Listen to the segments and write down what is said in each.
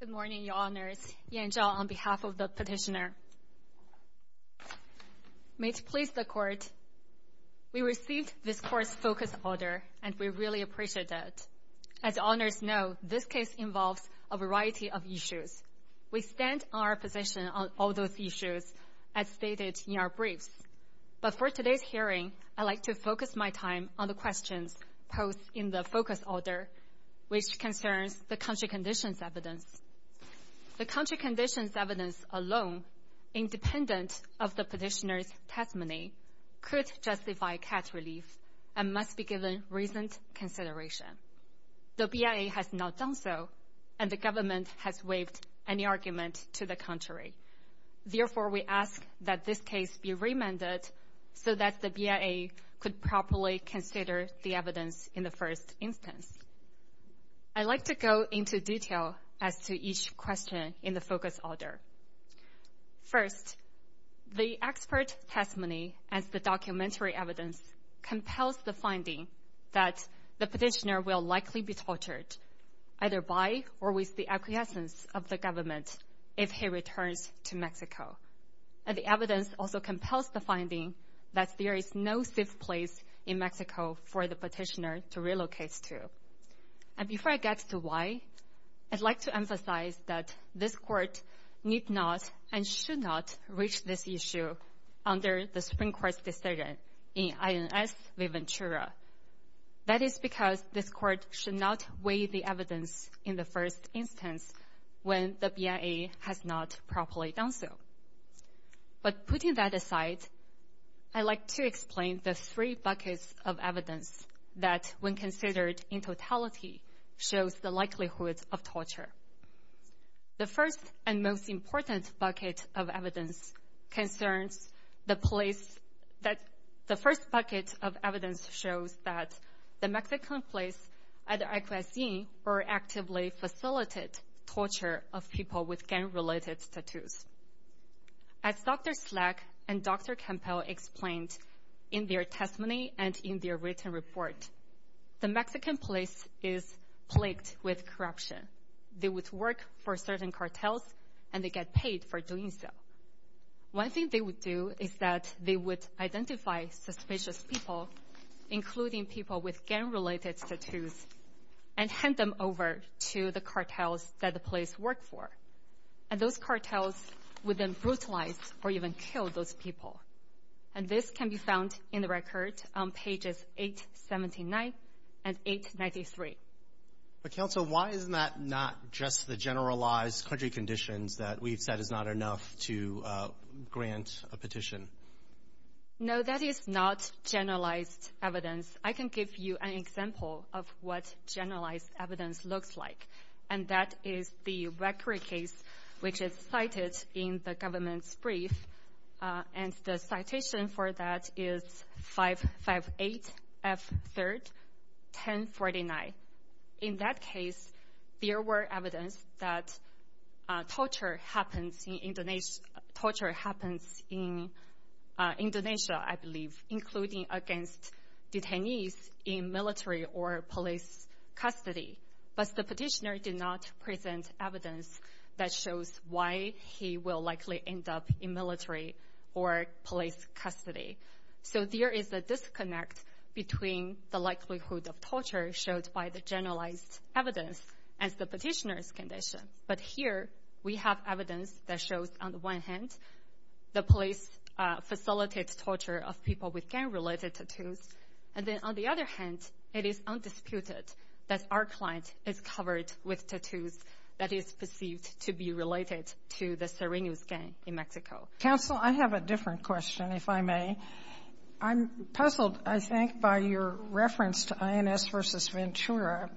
Good morning, Your Honors. Yan Zhao on behalf of the Petitioner. May it please the Court, we received this Court's focus order and we really appreciate it. As the Honors know, this case involves a variety of issues. We stand on our position on all those issues as stated in our briefs. But for today's hearing, I'd like to focus my time on the questions posed in the focus order, which concerns the country conditions evidence. The country conditions evidence alone, independent of the Petitioner's testimony, could justify cat relief and must be given recent consideration. The BIA has not done so, and the government has waived any argument to the contrary. Therefore, we ask that this case be remanded so that the BIA could properly consider the evidence in the first instance. I'd like to go into detail as to each question in the focus order. First, the expert testimony as the documentary evidence compels the finding that the Petitioner will likely be tortured, either by or with the acquiescence of the government, if he returns to Mexico. And the evidence also compels the finding that there is no safe place in Mexico for the Petitioner to relocate to. And before I get to why, I'd like to emphasize that this Court need not and should not reach this issue under the Supreme Court's decision in INS Viventura. That is because this Court should not weigh the evidence in the first instance when the BIA has not properly done so. But putting that aside, I'd like to explain the three buckets of evidence that, when considered in totality, shows the likelihood of torture. The first and most important bucket of evidence shows that the Mexican police either acquiesce in or actively facilitated torture of people with gang-related tattoos. As Dr. Slack and Dr. Campbell explained in their testimony and in their written report, the Mexican police is plagued with corruption. They would work for certain cartels, and they get paid for doing so. One thing they would do is that they would identify suspicious people, including people with gang-related tattoos, and hand them over to the cartels that the police work for. And those cartels would then brutalize or even kill those people. And this can be found in the record on pages 879 and 893. But, Counsel, why is that not just the generalized country conditions that we've said is not enough to grant a petition? No, that is not generalized evidence. I can give you an example of what generalized evidence looks like, and that is the Vekri case, which is cited in the government's brief. And the citation for that is 558F3-1049. In that case, there were evidence that torture happens in Indonesia, I believe, including against detainees in military or police custody. But the petitioner did not present evidence that shows why he will likely end up in military or police custody. So there is a disconnect between the likelihood of torture showed by the generalized evidence and the petitioner's condition. But here we have evidence that shows, on the one hand, the police facilitates torture of people with gang-related tattoos. And then, on the other hand, it is undisputed that our client is covered with tattoos that is perceived to be related to the Sirenius gang in Mexico. Counsel, I have a different question, if I may. I'm puzzled, I think, by your reference to INS v. Ventura,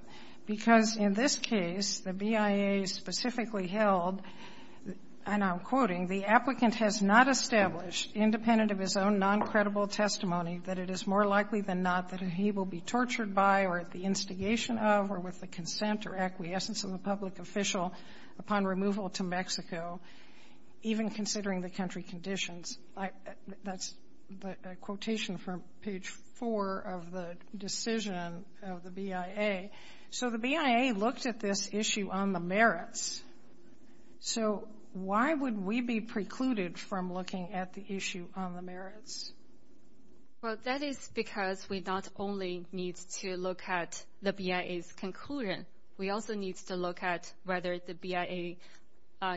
because in this case, the BIA specifically held, and I'm quoting, the applicant has not established, independent of his own noncredible testimony, that it is more likely than not that he will be tortured by or at the instigation of or with the consent or acquiescence of a public official upon removal to Mexico, even considering the country conditions. That's the quotation from page 4 of the decision of the BIA. So the BIA looked at this issue on the merits. So why would we be precluded from looking at the issue on the merits? Well, that is because we not only need to look at the BIA's conclusion, we also need to look at whether the BIA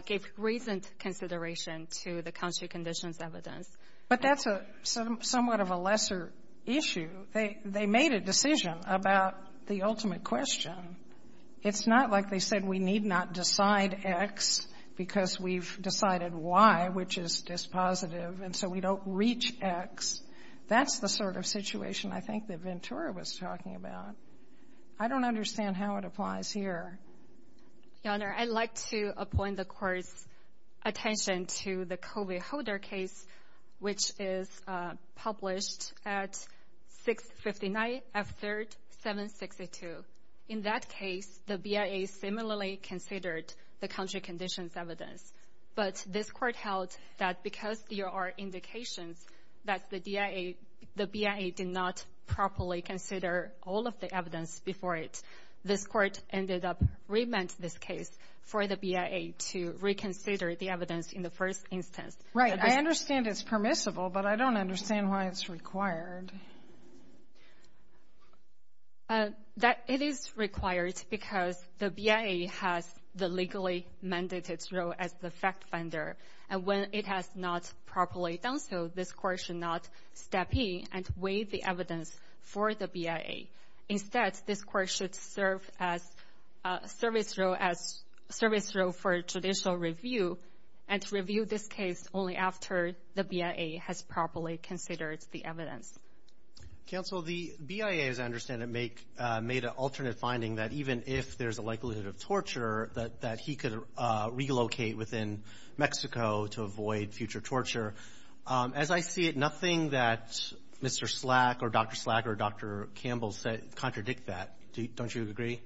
gave reasoned consideration to the country conditions evidence. But that's somewhat of a lesser issue. They made a decision about the ultimate question. It's not like they said we need not decide X because we've decided Y, which is dispositive, and so we don't reach X. That's the sort of situation I think that Ventura was talking about. I don't understand how it applies here. Your Honor, I'd like to appoint the Court's attention to the Kobe Holder case, which is published at 659 F3rd 762. In that case, the BIA similarly considered the country conditions evidence. But this Court held that because there are indications that the BIA did not properly consider all of the evidence before it, this Court ended up remanding this case for the BIA to reconsider the evidence in the first instance. Right. I understand it's permissible, but I don't understand why it's required. That it is required because the BIA has the legally mandated role as the fact finder. And when it has not properly done so, this Court should not step in and weigh the evidence for the BIA. Instead, this Court should serve as a service role for judicial review and review this case only after the BIA has properly considered the evidence. Counsel, the BIA, as I understand it, made an alternate finding that even if there's a likelihood of torture, that he could relocate within Mexico to avoid future torture. As I see it, nothing that Mr. Slack or Dr. Slack or Dr. Campbell contradict that. Don't you agree?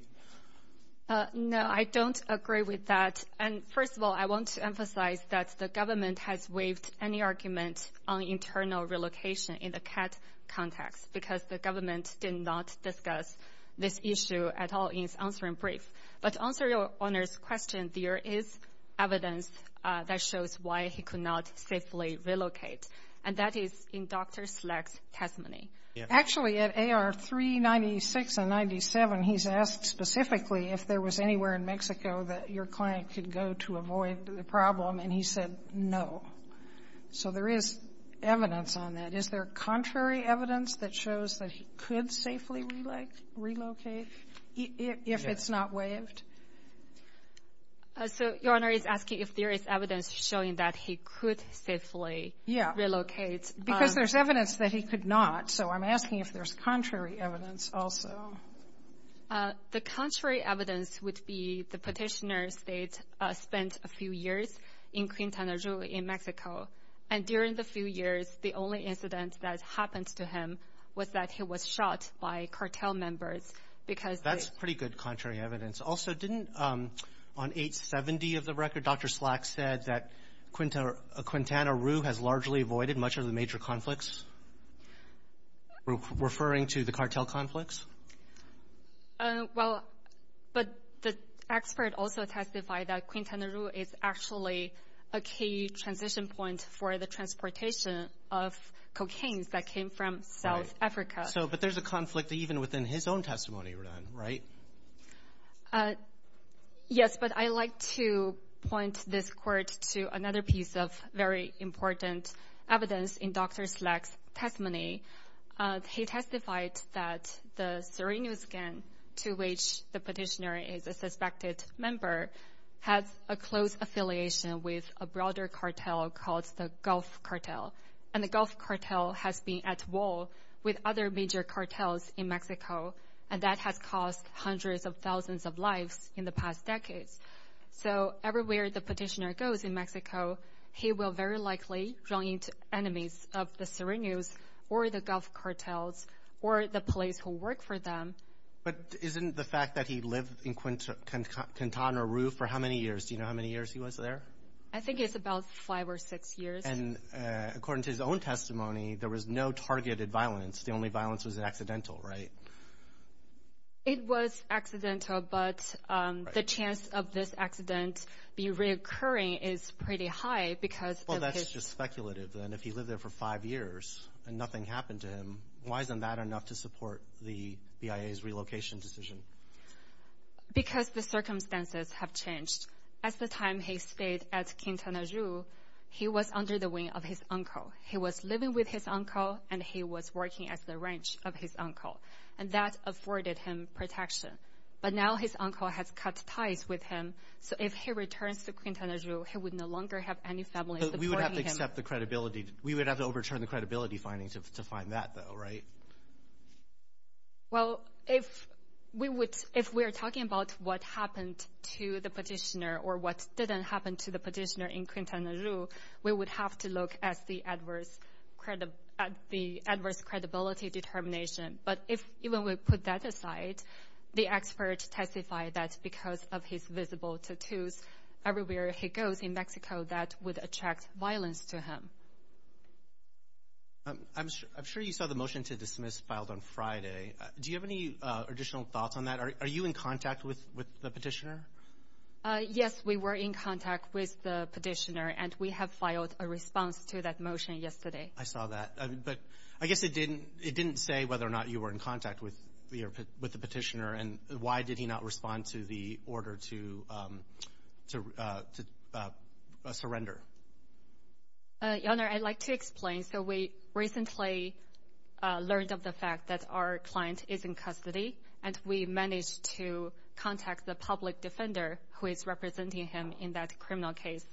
No, I don't agree with that. And first of all, I want to emphasize that the government has waived any argument on internal relocation in the CAT context because the government did not discuss this issue at all in its answering brief. But to answer Your Honor's question, there is evidence that shows why he could not safely relocate, and that is in Dr. Slack's testimony. Actually, at AR 396 and 97, he's asked specifically if there was anywhere in Mexico that your client could go to avoid the problem, and he said no. So there is evidence on that. Is there contrary evidence that shows that he could safely relocate if it's not waived? So Your Honor is asking if there is evidence showing that he could safely relocate. Yeah. Because there's evidence that he could not, so I'm asking if there's contrary evidence also. The contrary evidence would be the Petitioner state spent a few years in Quintana Roo in Mexico, and during the few years, the only incident that happened to him was that he was shot by cartel members. That's pretty good contrary evidence. Also, didn't on 870 of the record, Dr. Slack said that Quintana Roo has largely avoided much of the major conflicts? Referring to the cartel conflicts? Well, but the expert also testified that Quintana Roo is actually a key transition point for the transportation of cocaines that came from South Africa. So, but there's a conflict even within his own testimony, right? Yes, but I like to point this court to another piece of very important evidence in Dr. Slack's testimony. He testified that the Serenio scan, to which the Petitioner is a suspected member, has a close affiliation with a broader cartel called the Gulf cartel. And the Gulf cartel has been at war with other major cartels in Mexico, and that has cost hundreds of thousands of lives in the past decades. So everywhere the Petitioner goes in Mexico, he will very likely run into enemies of the Serenios or the Gulf cartels or the police who work for them. But isn't the fact that he lived in Quintana Roo for how many years? Do you know how many years he was there? I think it's about five or six years. And according to his own testimony, there was no targeted violence. The only violence was an accidental, right? It was accidental, but the chance of this accident be reoccurring is pretty high because Well, that's just speculative then. If he lived there for five years and nothing happened to him, why isn't that enough to support the BIA's relocation decision? Because the circumstances have changed. At the time he stayed at Quintana Roo, he was under the wing of his uncle. He was living with his uncle, and he was working at the ranch of his uncle, and that afforded him protection. But now his uncle has cut ties with him, so if he returns to Quintana Roo, he would no longer have any family supporting We would have to overturn the credibility findings to find that, though, right? Well, if we are talking about what happened to the petitioner or what didn't happen to the petitioner in Quintana Roo, we would have to look at the adverse credibility determination. But even if we put that aside, the experts testify that because of his visible tattoos everywhere he goes in Mexico, that would attract violence to him. I'm sure you saw the motion to dismiss filed on Friday. Do you have any additional thoughts on that? Are you in contact with the petitioner? Yes, we were in contact with the petitioner, and we have filed a response to that motion yesterday. I saw that. But I guess it didn't say whether or not you were in contact with the petitioner, and why did he not respond to the order to surrender? Your Honor, I'd like to explain. So we recently learned of the fact that our client is in custody, and we managed to contact the public defender who is representing him in that criminal case,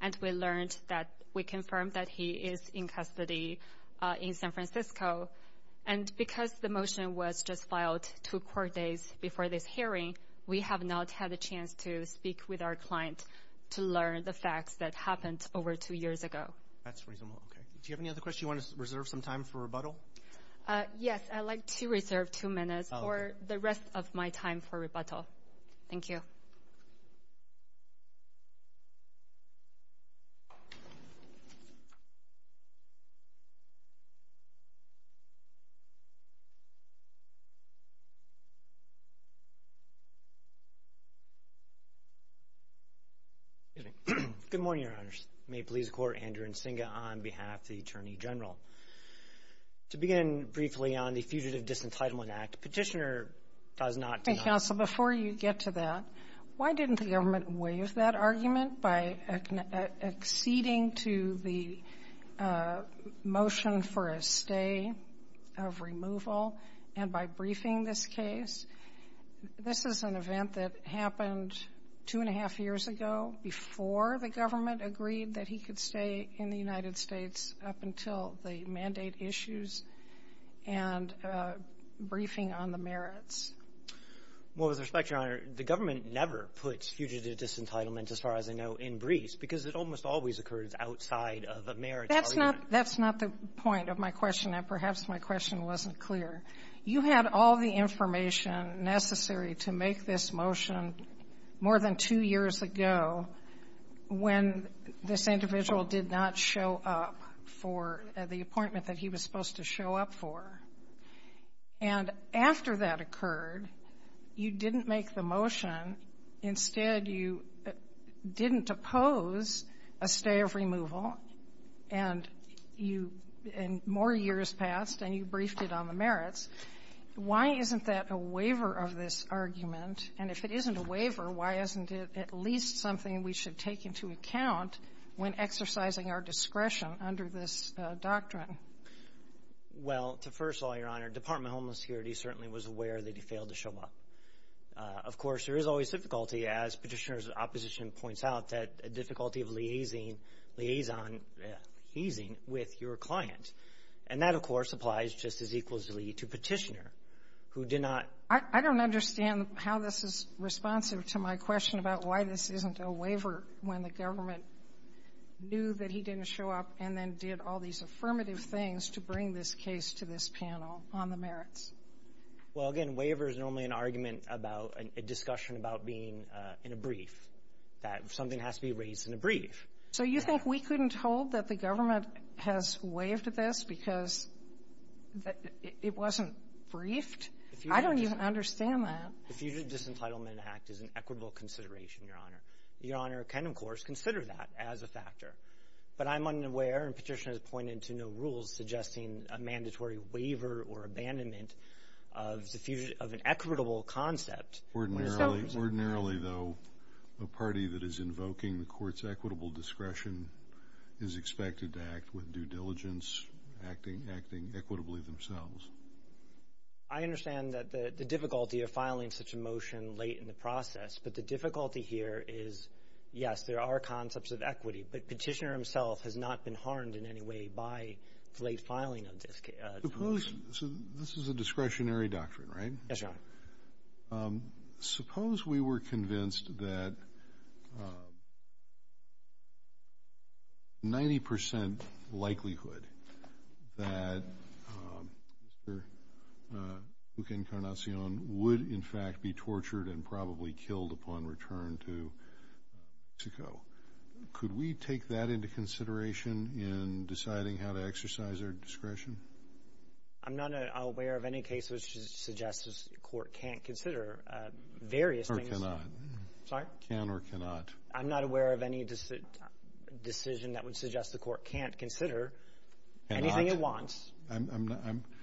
and we learned that we confirmed that he is in custody in San Francisco. And because the motion was just filed two court days before this hearing, we have not had a chance to speak with our client to learn the facts that happened over two years ago. That's reasonable. Okay. Do you have any other questions? Do you want to reserve some time for rebuttal? Yes, I'd like to reserve two minutes for the rest of my time for rebuttal. Thank you. Good morning, Your Honors. May it please the Court, Andrew Nsinga on behalf of the Attorney General. To begin briefly on the Fugitive Disentitlement Act, Petitioner does not deny that the government waived that argument by acceding to the motion for a stay, and removal, and by briefing this case. This is an event that happened two and a half years ago before the government agreed that he could stay in the United States up until the mandate issues and briefing on the merits. Well, with respect, Your Honor, the government never puts fugitive disentitlement, as far as I know, in briefs because it almost always occurs outside of the merits argument. That's not the point of my question, and perhaps my question wasn't clear. You had all the information necessary to make this motion more than two years ago when this individual did not show up for the appointment that he was supposed to show up for. And after that occurred, you didn't make the motion. Instead, you didn't oppose a stay of removal, and you — and more years passed, and you briefed it on the merits. Why isn't that a waiver of this argument? And if it isn't a waiver, why isn't it at least something we should take into account when exercising our discretion under this doctrine? Well, to first of all, Your Honor, Department of Homeless Security certainly was aware that he failed to show up. Of course, there is always difficulty, as Petitioner's opposition points out, that difficulty of liaising — liaison — easing with your client. And that, of course, applies just as equally to Petitioner, who did not — I don't understand how this is responsive to my question about why this isn't a waiver when the government knew that he didn't show up and then did all these affirmative things to bring this case to this panel on the merits. Well, again, a waiver is normally an argument about a discussion about being in a brief, that something has to be raised in a brief. So you think we couldn't hold that the government has waived this because it wasn't briefed? I don't even understand that. The Fugitive Disentitlement Act is an equitable consideration, Your Honor. Your Honor can, of course, consider that as a factor. But I'm unaware, and Petitioner has pointed to no rules suggesting a mandatory waiver or abandonment of an equitable concept. Ordinarily, though, a party that is invoking the court's equitable discretion is expected to act with due diligence, acting equitably themselves. I understand that the difficulty of filing such a motion late in the process. But the difficulty here is, yes, there are concepts of equity. But Petitioner himself has not been harmed in any way by the late filing of this motion. So this is a discretionary doctrine, right? Yes, Your Honor. Suppose we were convinced that 90 percent likelihood that Mr. Eugen Carnacion would, in fact, be tortured and probably killed upon return to Mexico. Could we take that into consideration in deciding how to exercise our discretion? I'm not aware of any case which suggests the court can't consider various things. Or cannot. Sorry? Can or cannot. I'm not aware of any decision that would suggest the court can't consider anything it wants. Cannot.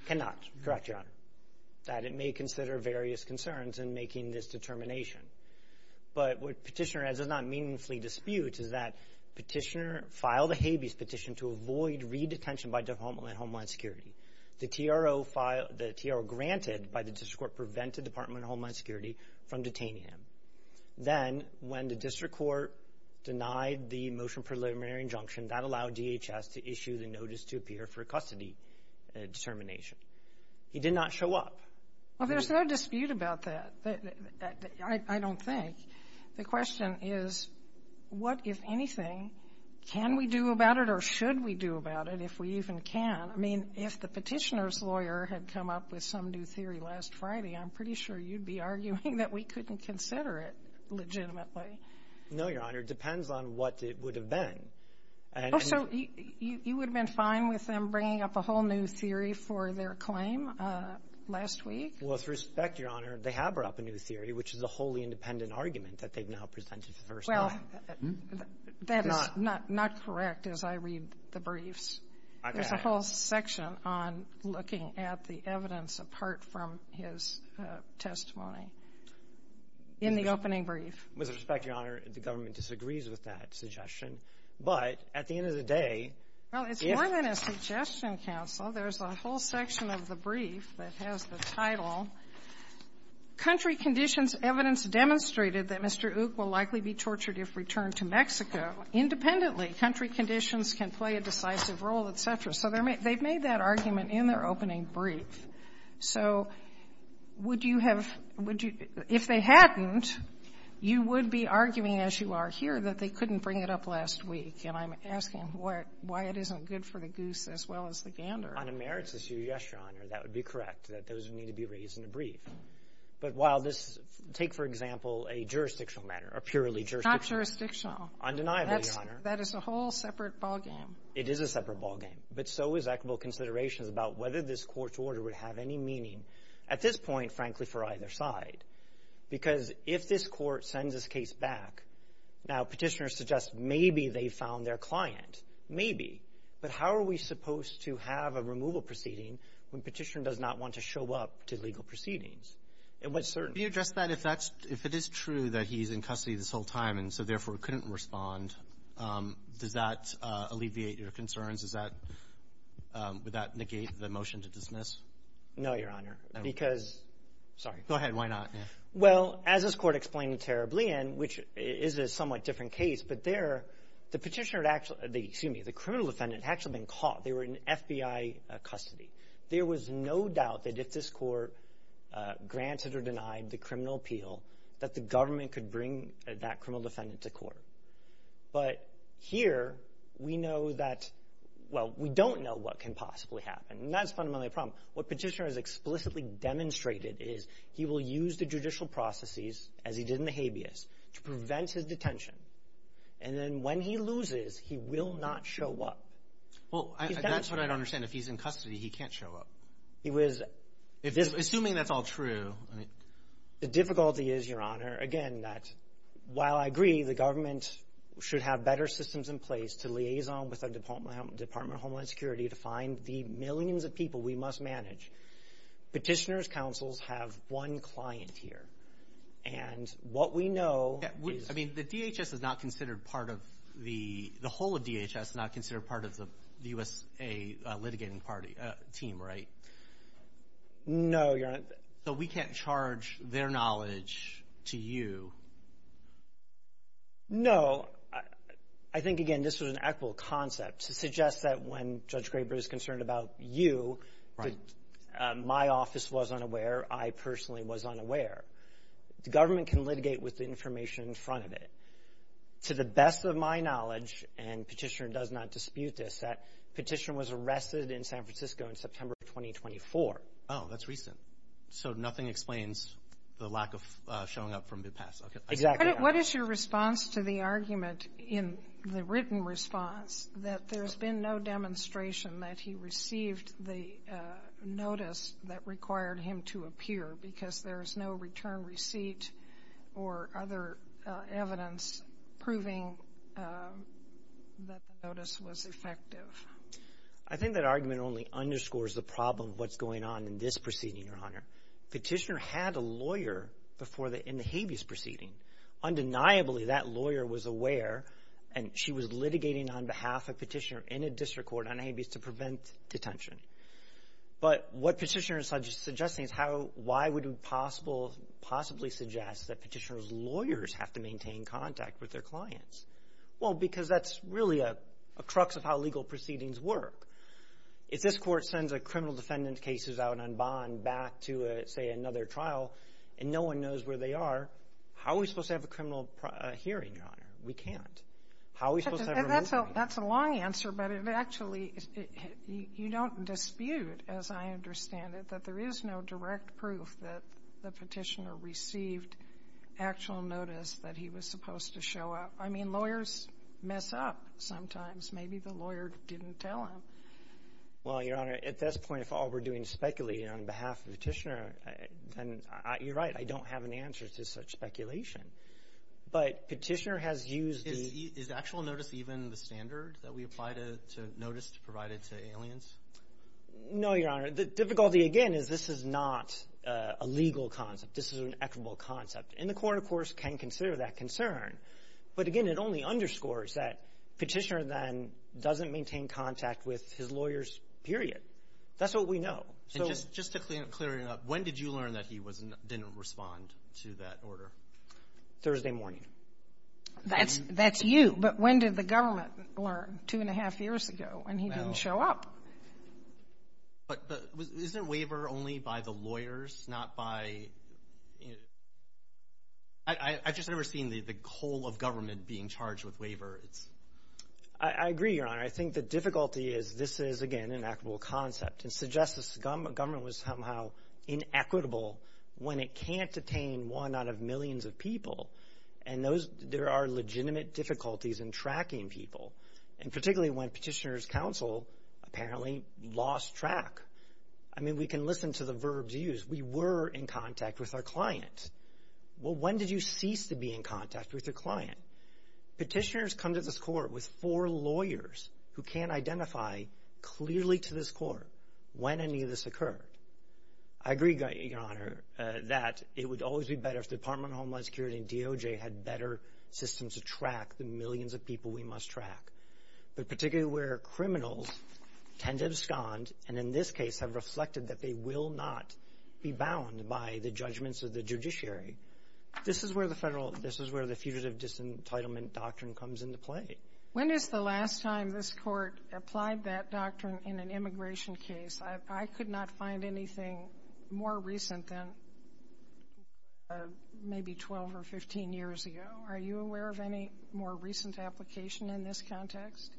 Cannot. Correct, Your Honor. That it may consider various concerns in making this determination. But what Petitioner does not meaningfully dispute is that Petitioner filed a habeas petition to avoid redetention by Department of Homeland Security. The TRO filed the TRO granted by the district court prevented Department of Homeland Security from detaining him. Then, when the district court denied the motion preliminary injunction, that allowed DHS to issue the notice to appear for custody determination. He did not show up. Well, there's no dispute about that, I don't think. The question is, what, if anything, can we do about it or should we do about it, if we even can? I mean, if the Petitioner's lawyer had come up with some new theory last Friday, I'm pretty sure you'd be arguing that we couldn't consider it legitimately. No, Your Honor. It depends on what it would have been. Oh, so you would have been fine with them bringing up a whole new theory for their claim last week? With respect, Your Honor, they have brought up a new theory, which is a wholly independent argument that they've now presented for the first time. Well, that is not correct as I read the briefs. Okay. There's a whole section on looking at the evidence apart from his testimony in the opening brief. With respect, Your Honor, the government disagrees with that suggestion. But at the end of the day, if — Well, it's more than a suggestion, counsel. There's a whole section of the brief that has the title, Country Conditions Evidence Demonstrated that Mr. Uch will likely be tortured if returned to Mexico. Independently, country conditions can play a decisive role, et cetera. So they've made that argument in their opening brief. So would you have — if they hadn't, you would be arguing, as you are here, that they couldn't bring it up last week. And I'm asking why it isn't good for the goose as well as the gander. On a merits issue, yes, Your Honor, that would be correct, that those would need to be raised in a brief. But while this — take, for example, a jurisdictional matter or purely jurisdictional. It's not jurisdictional. Undeniably, Your Honor. That is a whole separate ballgame. It is a separate ballgame. But so is equitable considerations about whether this Court's order would have any meaning at this point, frankly, for either side. Because if this Court sends this case back — now, Petitioner suggests maybe they found their client, maybe. But how are we supposed to have a removal proceeding when Petitioner does not want to show up to legal proceedings? And what certain — Can you address that? If that's — if it is true that he's in custody this whole time and so, therefore, couldn't respond, does that alleviate your concerns? Is that — would that negate the motion to dismiss? No, Your Honor. Because — sorry. Go ahead. Why not? Well, as this Court explained terribly, and which is a somewhat different case, but there, the Petitioner had actually — excuse me, the criminal defendant had actually been caught. They were in FBI custody. There was no doubt that if this Court granted or denied the criminal appeal, that the government could bring that criminal defendant to court. But here, we know that — well, we don't know what can possibly happen. And that's fundamentally the problem. What Petitioner has explicitly demonstrated is he will use the judicial processes, as he did in the habeas, to prevent his detention. And then when he loses, he will not show up. Well, that's what I don't understand. If he's in custody, he can't show up. He was — Assuming that's all true. The difficulty is, Your Honor, again, that while I agree the government should have better systems in place to liaison with the Department of Homeland Security to find the millions of people we must manage, Petitioner's counsels have one client here. And what we know is — I mean, the DHS is not considered part of the — the whole of DHS is not considered part of the U.S.A. litigating party — team, right? No, Your Honor. So we can't charge their knowledge to you? No. I think, again, this was an equitable concept to suggest that when Judge Graber is concerned about you — Right. My office was unaware. I personally was unaware. The government can litigate with the information in front of it. To the best of my knowledge, and Petitioner does not dispute this, that Petitioner was arrested in San Francisco in September of 2024. Oh, that's recent. So nothing explains the lack of showing up from the past. Exactly. What is your response to the argument in the written response that there's been no demonstration that he received the notice that required him to appear because there's no return receipt or other evidence proving that the notice was effective? I think that argument only underscores the problem of what's going on in this proceeding, Your Honor. Petitioner had a lawyer before the — in the habeas proceeding. Undeniably, that lawyer was aware, and she was litigating on behalf of Petitioner in a district court on habeas to prevent detention. But what Petitioner is suggesting is how — why would we possibly suggest that Petitioner's lawyers have to maintain contact with their clients? Well, because that's really a crux of how legal proceedings work. If this court sends a criminal defendant's case out on bond back to, say, another trial and no one knows where they are, how are we supposed to have a criminal hearing, Your We can't. How are we supposed to have a ruling? That's a long answer, but it actually — you don't dispute, as I understand it, that there is no direct proof that the Petitioner received actual notice that he was supposed to show up. I mean, lawyers mess up sometimes. Maybe the lawyer didn't tell him. Well, Your Honor, at this point, if all we're doing is speculating on behalf of Petitioner, then you're right. I don't have an answer to such speculation. But Petitioner has used the — Is actual notice even the standard that we apply to notice provided to aliens? No, Your Honor. The difficulty, again, is this is not a legal concept. This is an equitable concept. And the Court, of course, can consider that concern. But again, it only underscores that Petitioner then doesn't maintain contact with his lawyers, period. That's what we know. And just to clear it up, when did you learn that he didn't respond to that order? Thursday morning. That's you. But when did the government learn? Two and a half years ago, when he didn't show up. But isn't waiver only by the lawyers, not by — I've just never seen the whole of government being charged with waiver. I agree, Your Honor. I think the difficulty is this is, again, an equitable concept. It suggests this government was somehow inequitable when it can't detain one out of millions of people. And there are legitimate difficulties in tracking people, and particularly when Petitioner's counsel apparently lost track. I mean, we can listen to the verbs used. We were in contact with our client. Well, when did you cease to be in contact with your client? Petitioners come to this Court with four lawyers who can't identify clearly to this Court when any of this occurred. I agree, Your Honor, that it would always be better if the Department of Homeland Security and DOJ had better systems to track the millions of people we must track. But particularly where criminals tend to abscond, and in this case have reflected that they will not be bound by the judgments of the judiciary, this is where the Federal — this is where the Fugitive Disentitlement Doctrine comes into play. When is the last time this Court applied that doctrine in an immigration case? I could not find anything more recent than maybe 12 or 15 years ago. Are you aware of any more recent application in this context?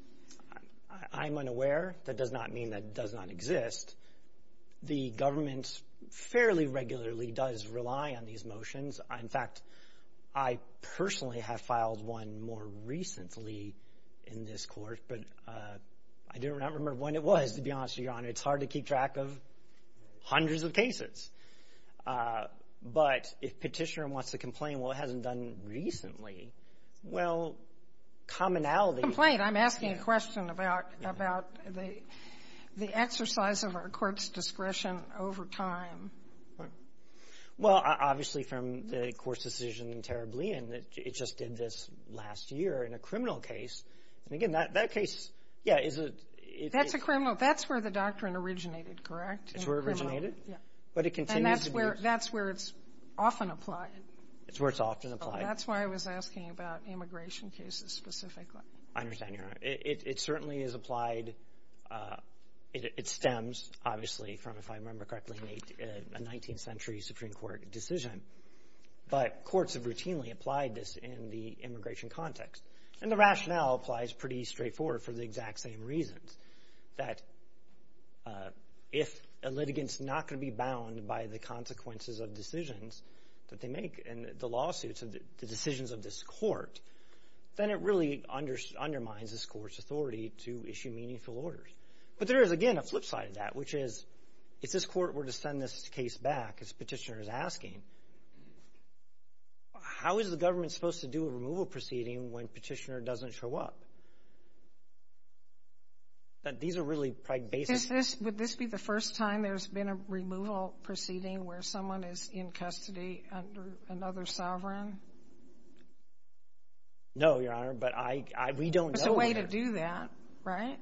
I'm unaware. That does not mean that does not exist. The government fairly regularly does rely on these motions. In fact, I personally have filed one more recently in this Court, but I do not remember when it was, to be honest with you, Your Honor. It's hard to keep track of hundreds of cases. But if Petitioner wants to complain, well, it hasn't done recently, well, commonality — Complain. I'm asking a question about the exercise of our Court's discretion over time. Right. Well, obviously, from the Court's decision in Tarablian, it just did this last year in a criminal case. And again, that case, yeah, is a — That's a criminal. Well, that's where the doctrine originated, correct? It's where it originated. Yeah. But it continues to be — And that's where it's often applied. It's where it's often applied. That's why I was asking about immigration cases specifically. I understand, Your Honor. It certainly is applied. It stems, obviously, from, if I remember correctly, a 19th century Supreme Court decision. But courts have routinely applied this in the immigration context. And the rationale applies pretty straightforward for the exact same reasons, that if a litigant's not going to be bound by the consequences of decisions that they make and the lawsuits and the decisions of this Court, then it really undermines this Court's authority to issue meaningful orders. But there is, again, a flip side of that, which is, if this Court were to send this case back, as Petitioner is asking, how is the government supposed to do a removal proceeding when Petitioner doesn't show up? These are really basic — Would this be the first time there's been a removal proceeding where someone is in custody under another sovereign? No, Your Honor. But we don't know. There's a way to do that, right?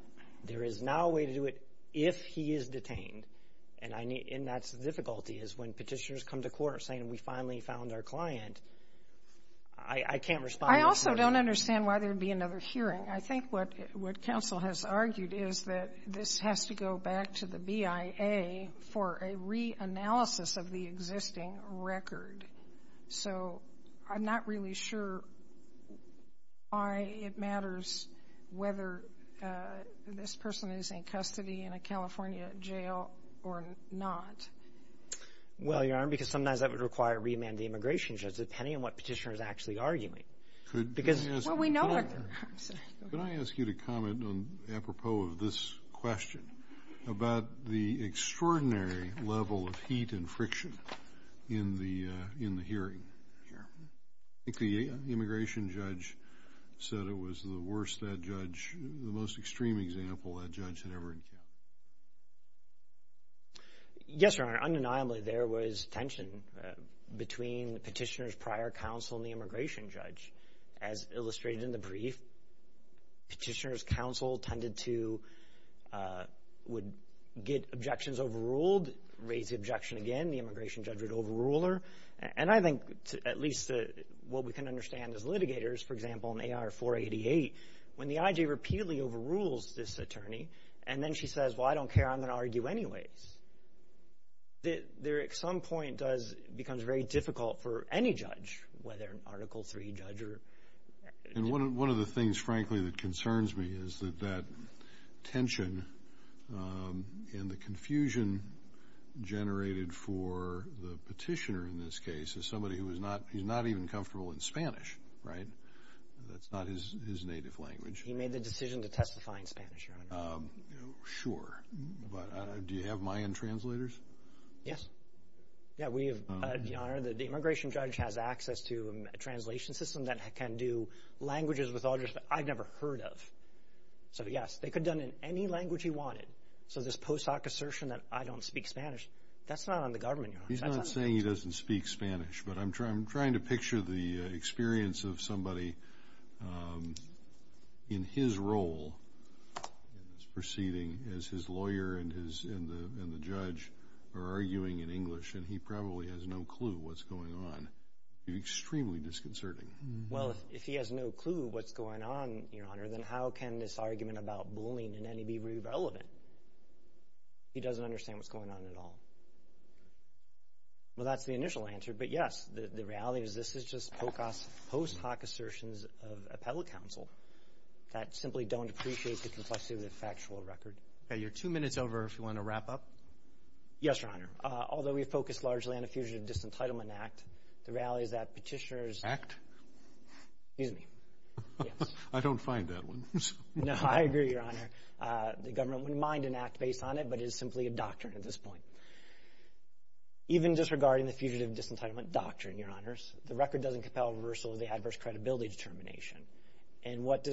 There is now a way to do it if he is detained. And that's the difficulty, is when Petitioners come to court saying, we finally found our client, I can't respond to that. I also don't understand why there would be another hearing. I think what counsel has argued is that this has to go back to the BIA for a reanalysis of the existing record. So I'm not really sure why it matters whether this person is in custody in a California jail or not. Well, Your Honor, because sometimes that would require a remand to the immigration judge, depending on what Petitioner is actually arguing. Could I ask you to comment, apropos of this question, about the extraordinary level of heat and friction in the hearing here? I think the immigration judge said it was the worst that judge, the most extreme example that judge had ever encountered. Yes, Your Honor, undeniably there was tension between Petitioner's prior counsel and the immigration judge. As illustrated in the brief, Petitioner's counsel tended to get objections overruled, raise the objection again, the immigration judge would overrule her. And I think at least what we can understand as litigators, for example, in AR-488, when the I.J. repeatedly overrules this attorney and then she says, well, I don't care, I'm going to argue anyways, there at some point becomes very difficult for any judge, whether an Article III judge or... And one of the things, frankly, that concerns me is that that tension and the confusion generated for the Petitioner in this case is somebody who is not even comfortable in Spanish. That's not his native language. He made the decision to testify in Spanish, Your Honor. Sure, but do you have Mayan translators? Yes. Your Honor, the immigration judge has access to a translation system that can do languages with others that I've never heard of. So yes, they could have done it in any language he wanted. So this post hoc assertion that I don't speak Spanish, that's not on the government, Your Honor. He's not saying he doesn't speak Spanish, but I'm trying to picture the experience of somebody in his role in this proceeding as his lawyer and the judge are arguing in English, and he probably has no clue what's going on. It would be extremely disconcerting. Well, if he has no clue what's going on, Your Honor, then how can this argument about bullying and any be relevant? He doesn't understand what's going on at all. Well, that's the initial answer. But, yes, the reality is this is just post hoc assertions of appellate counsel that simply don't appreciate the complexity of the factual record. You're two minutes over if you want to wrap up. Yes, Your Honor. Although we focus largely on the Fugitive Disentitlement Act, the reality is that petitioners act. Excuse me. I don't find that one. No, I agree, Your Honor. The government wouldn't mind an act based on it, but it is simply a doctrine at this point. Even disregarding the Fugitive Disentitlement Doctrine, Your Honors, the record doesn't compel reversal of the adverse credibility determination. And what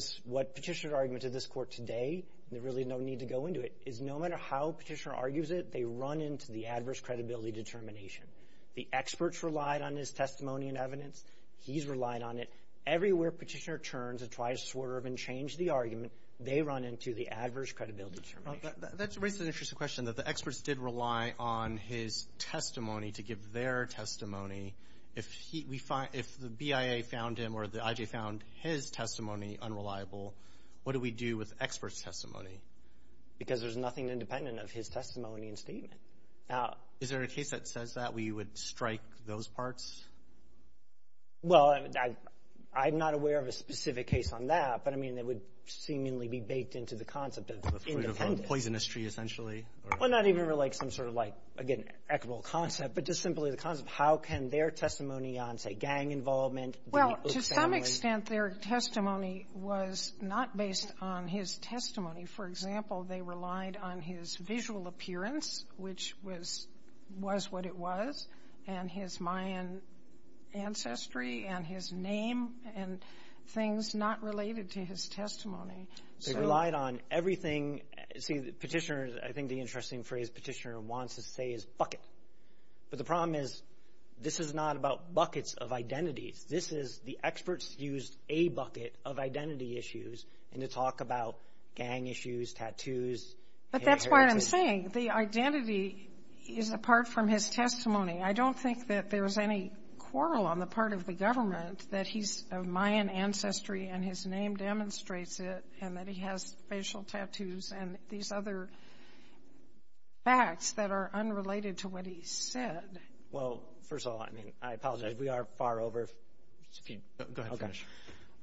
petitioner's argument to this court today, and there's really no need to go into it, is no matter how petitioner argues it, they run into the adverse credibility determination. The experts relied on his testimony and evidence. He's relied on it. Everywhere petitioner turns and tries to swerve and change the argument, they run into the adverse credibility determination. That raises an interesting question, that the experts did rely on his testimony to give their testimony. If the BIA found him or the IJ found his testimony unreliable, what do we do with experts' testimony? Because there's nothing independent of his testimony and statement. Is there a case that says that where you would strike those parts? Well, I'm not aware of a specific case on that. But, I mean, it would seemingly be baked into the concept of independence. The fruit of a poisonous tree, essentially? Well, not even like some sort of, like, again, equitable concept, but just simply the concept of how can their testimony on, say, gang involvement, the U.S. family. Well, to some extent, their testimony was not based on his testimony. For example, they relied on his visual appearance, which was what it was, and his Mayan ancestry and his name and things not related to his testimony. They relied on everything. See, Petitioner, I think the interesting phrase Petitioner wants to say is bucket. But the problem is this is not about buckets of identities. This is the experts used a bucket of identity issues to talk about gang issues, tattoos. But that's what I'm saying. The identity is apart from his testimony. I don't think that there's any quarrel on the part of the government that he's of Mayan ancestry and his name demonstrates it, and that he has facial tattoos and these other facts that are unrelated to what he said. Well, first of all, I mean, I apologize. We are far over. Go ahead and finish.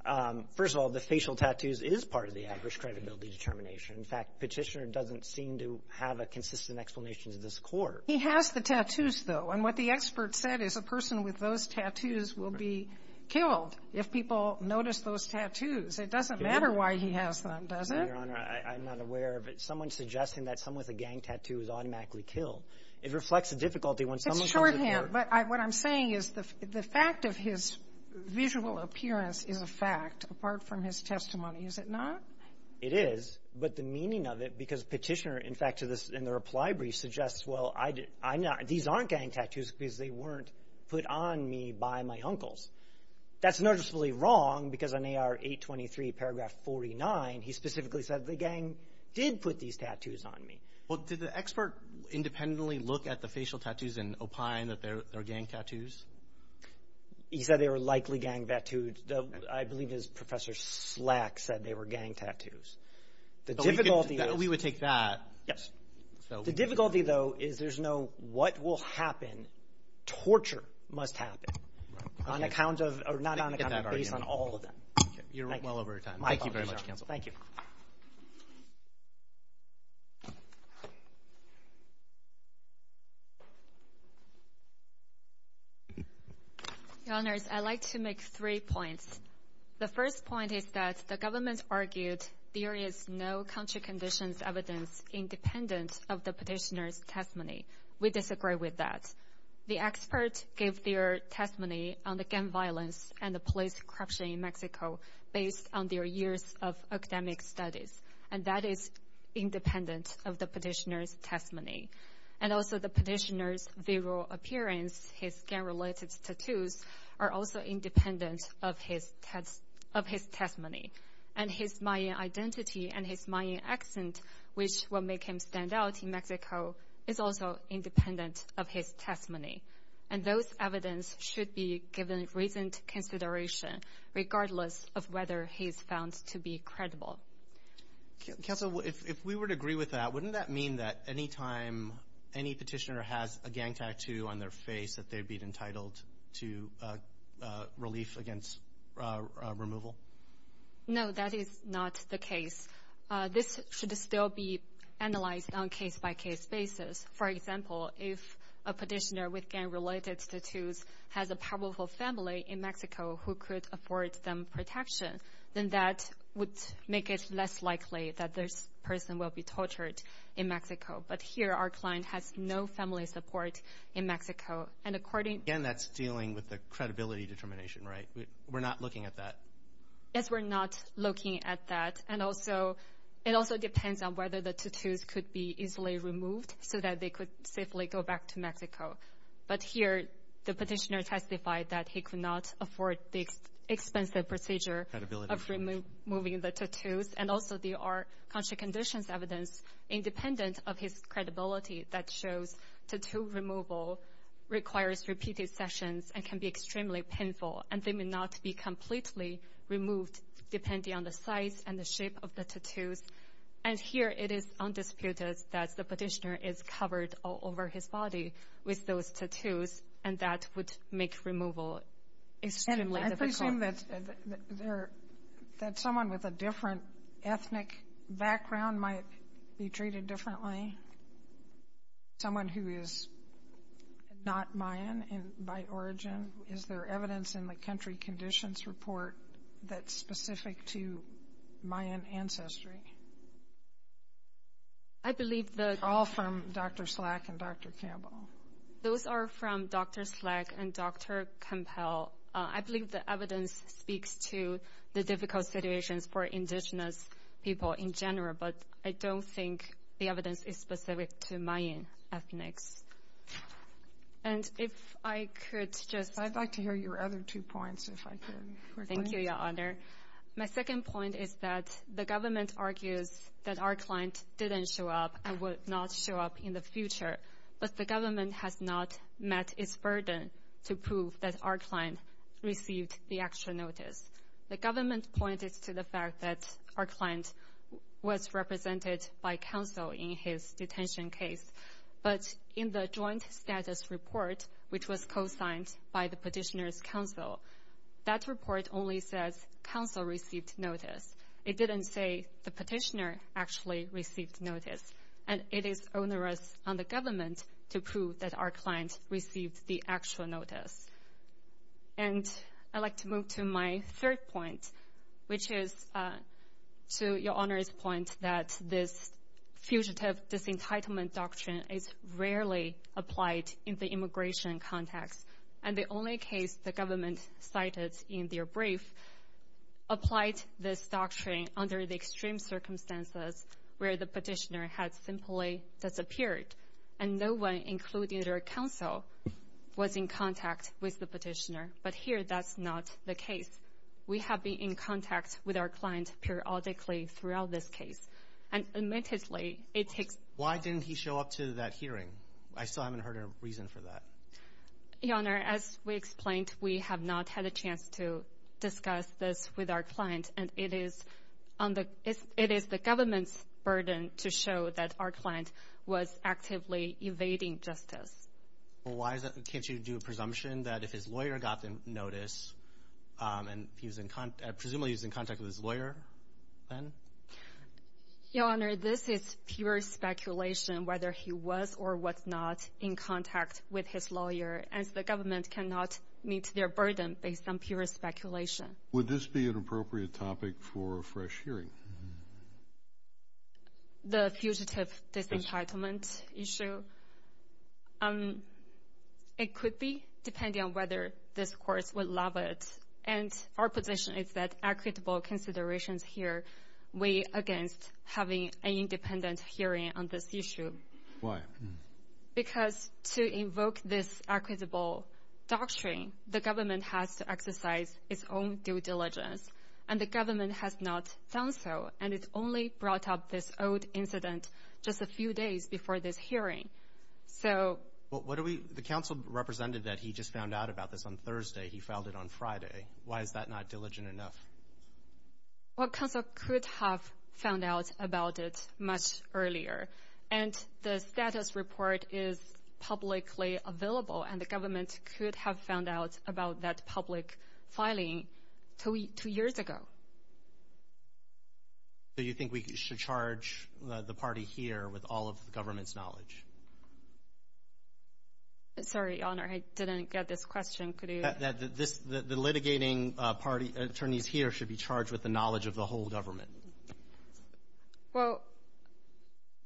Okay. First of all, the facial tattoos is part of the average credibility determination. In fact, Petitioner doesn't seem to have a consistent explanation to this court. He has the tattoos, though. And what the expert said is a person with those tattoos will be killed if people notice those tattoos. It doesn't matter why he has them, does it? Your Honor, I'm not aware of it. Someone suggesting that someone with a gang tattoo is automatically killed. It reflects the difficulty when someone comes to court. But what I'm saying is the fact of his visual appearance is a fact apart from his testimony, is it not? It is. But the meaning of it, because Petitioner, in fact, in the reply brief suggests, well, these aren't gang tattoos because they weren't put on me by my uncles. That's noticeably wrong because in AR 823, paragraph 49, he specifically said the gang did put these tattoos on me. Well, did the expert independently look at the facial tattoos and opine that they're gang tattoos? He said they were likely gang tattoos. I believe Professor Slack said they were gang tattoos. We would take that. The difficulty, though, is there's no what will happen. Torture must happen on account of, or not on account of, based on all of them. You're well over your time. Thank you very much, counsel. Thank you. Your Honors, I'd like to make three points. The first point is that the government argued there is no country conditions evidence independent of the Petitioner's testimony. We disagree with that. The expert gave their testimony on the gang violence and the police corruption in Mexico based on their years of academic studies, and that is independent of the Petitioner's testimony. And also the Petitioner's visual appearance, his gang-related tattoos, are also independent of his testimony. And his Mayan identity and his Mayan accent, which will make him stand out in Mexico, is also independent of his testimony. And those evidence should be given recent consideration, regardless of whether he is found to be credible. Counsel, if we were to agree with that, wouldn't that mean that any time any Petitioner has a gang tattoo on their face that they'd be entitled to relief against removal? No, that is not the case. This should still be analyzed on a case-by-case basis. For example, if a Petitioner with gang-related tattoos has a powerful family in Mexico who could afford them protection, then that would make it less likely that this person will be tortured in Mexico. But here our client has no family support in Mexico. Again, that's dealing with the credibility determination, right? We're not looking at that. Yes, we're not looking at that. And also, it also depends on whether the tattoos could be easily removed so that they could safely go back to Mexico. But here the Petitioner testified that he could not afford the expensive procedure of removing the tattoos. And also there are contra-conditions evidence, independent of his credibility, that shows tattoo removal requires repeated sessions and can be extremely painful, and they may not be completely removed depending on the size and the shape of the tattoos. And here it is undisputed that the Petitioner is covered all over his body with those tattoos, and that would make removal extremely difficult. I presume that someone with a different ethnic background might be treated differently, someone who is not Mayan by origin. Is there evidence in the country conditions report that's specific to Mayan ancestry? All from Dr. Slack and Dr. Campbell. Those are from Dr. Slack and Dr. Campbell. I believe the evidence speaks to the difficult situations for indigenous people in general, but I don't think the evidence is specific to Mayan ethnics. And if I could just — I'd like to hear your other two points, if I could. Thank you, Your Honor. My second point is that the government argues that our client didn't show up and would not show up in the future, but the government has not met its burden to prove that our client received the actual notice. The government pointed to the fact that our client was represented by counsel in his detention case. But in the joint status report, which was co-signed by the petitioner's counsel, that report only says counsel received notice. It didn't say the petitioner actually received notice. And it is onerous on the government to prove that our client received the actual notice. And I'd like to move to my third point, which is to Your Honor's point that this fugitive disentitlement doctrine is rarely applied in the immigration context. And the only case the government cited in their brief applied this doctrine under the extreme circumstances where the petitioner had simply disappeared and no one, including their counsel, was in contact with the petitioner. But here that's not the case. We have been in contact with our client periodically throughout this case. And admittedly, it takes— Why didn't he show up to that hearing? I still haven't heard a reason for that. Your Honor, as we explained, we have not had a chance to discuss this with our client. And it is the government's burden to show that our client was actively evading justice. Well, why is that? Can't you do a presumption that if his lawyer got the notice, and presumably he was in contact with his lawyer then? Your Honor, this is pure speculation whether he was or was not in contact with his lawyer, as the government cannot meet their burden based on pure speculation. Would this be an appropriate topic for a fresh hearing? The fugitive disentitlement issue? It could be, depending on whether this Court will allow it. And our position is that equitable considerations here weigh against having an independent hearing on this issue. Why? Because to invoke this equitable doctrine, the government has to exercise its own due diligence. And the government has not done so. And it only brought up this old incident just a few days before this hearing. The counsel represented that he just found out about this on Thursday. He filed it on Friday. Why is that not diligent enough? Well, counsel could have found out about it much earlier. And the status report is publicly available, and the government could have found out about that public filing two years ago. Do you think we should charge the party here with all of the government's knowledge? Sorry, Your Honor, I didn't get this question. The litigating attorneys here should be charged with the knowledge of the whole government. Well,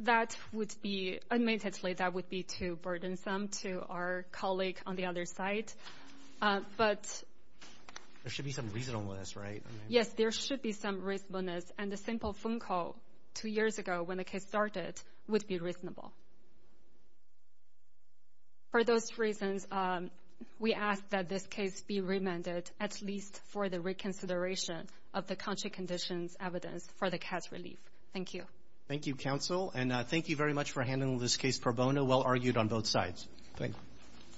that would be, admittedly, that would be too burdensome to our colleague on the other side. But there should be some reasonableness, right? Yes, there should be some reasonableness. And a simple phone call two years ago when the case started would be reasonable. For those reasons, we ask that this case be remanded at least for the reconsideration of the country conditions evidence for the cash relief. Thank you. Thank you, counsel. And thank you very much for handling this case pro bono, well argued on both sides. Thank you.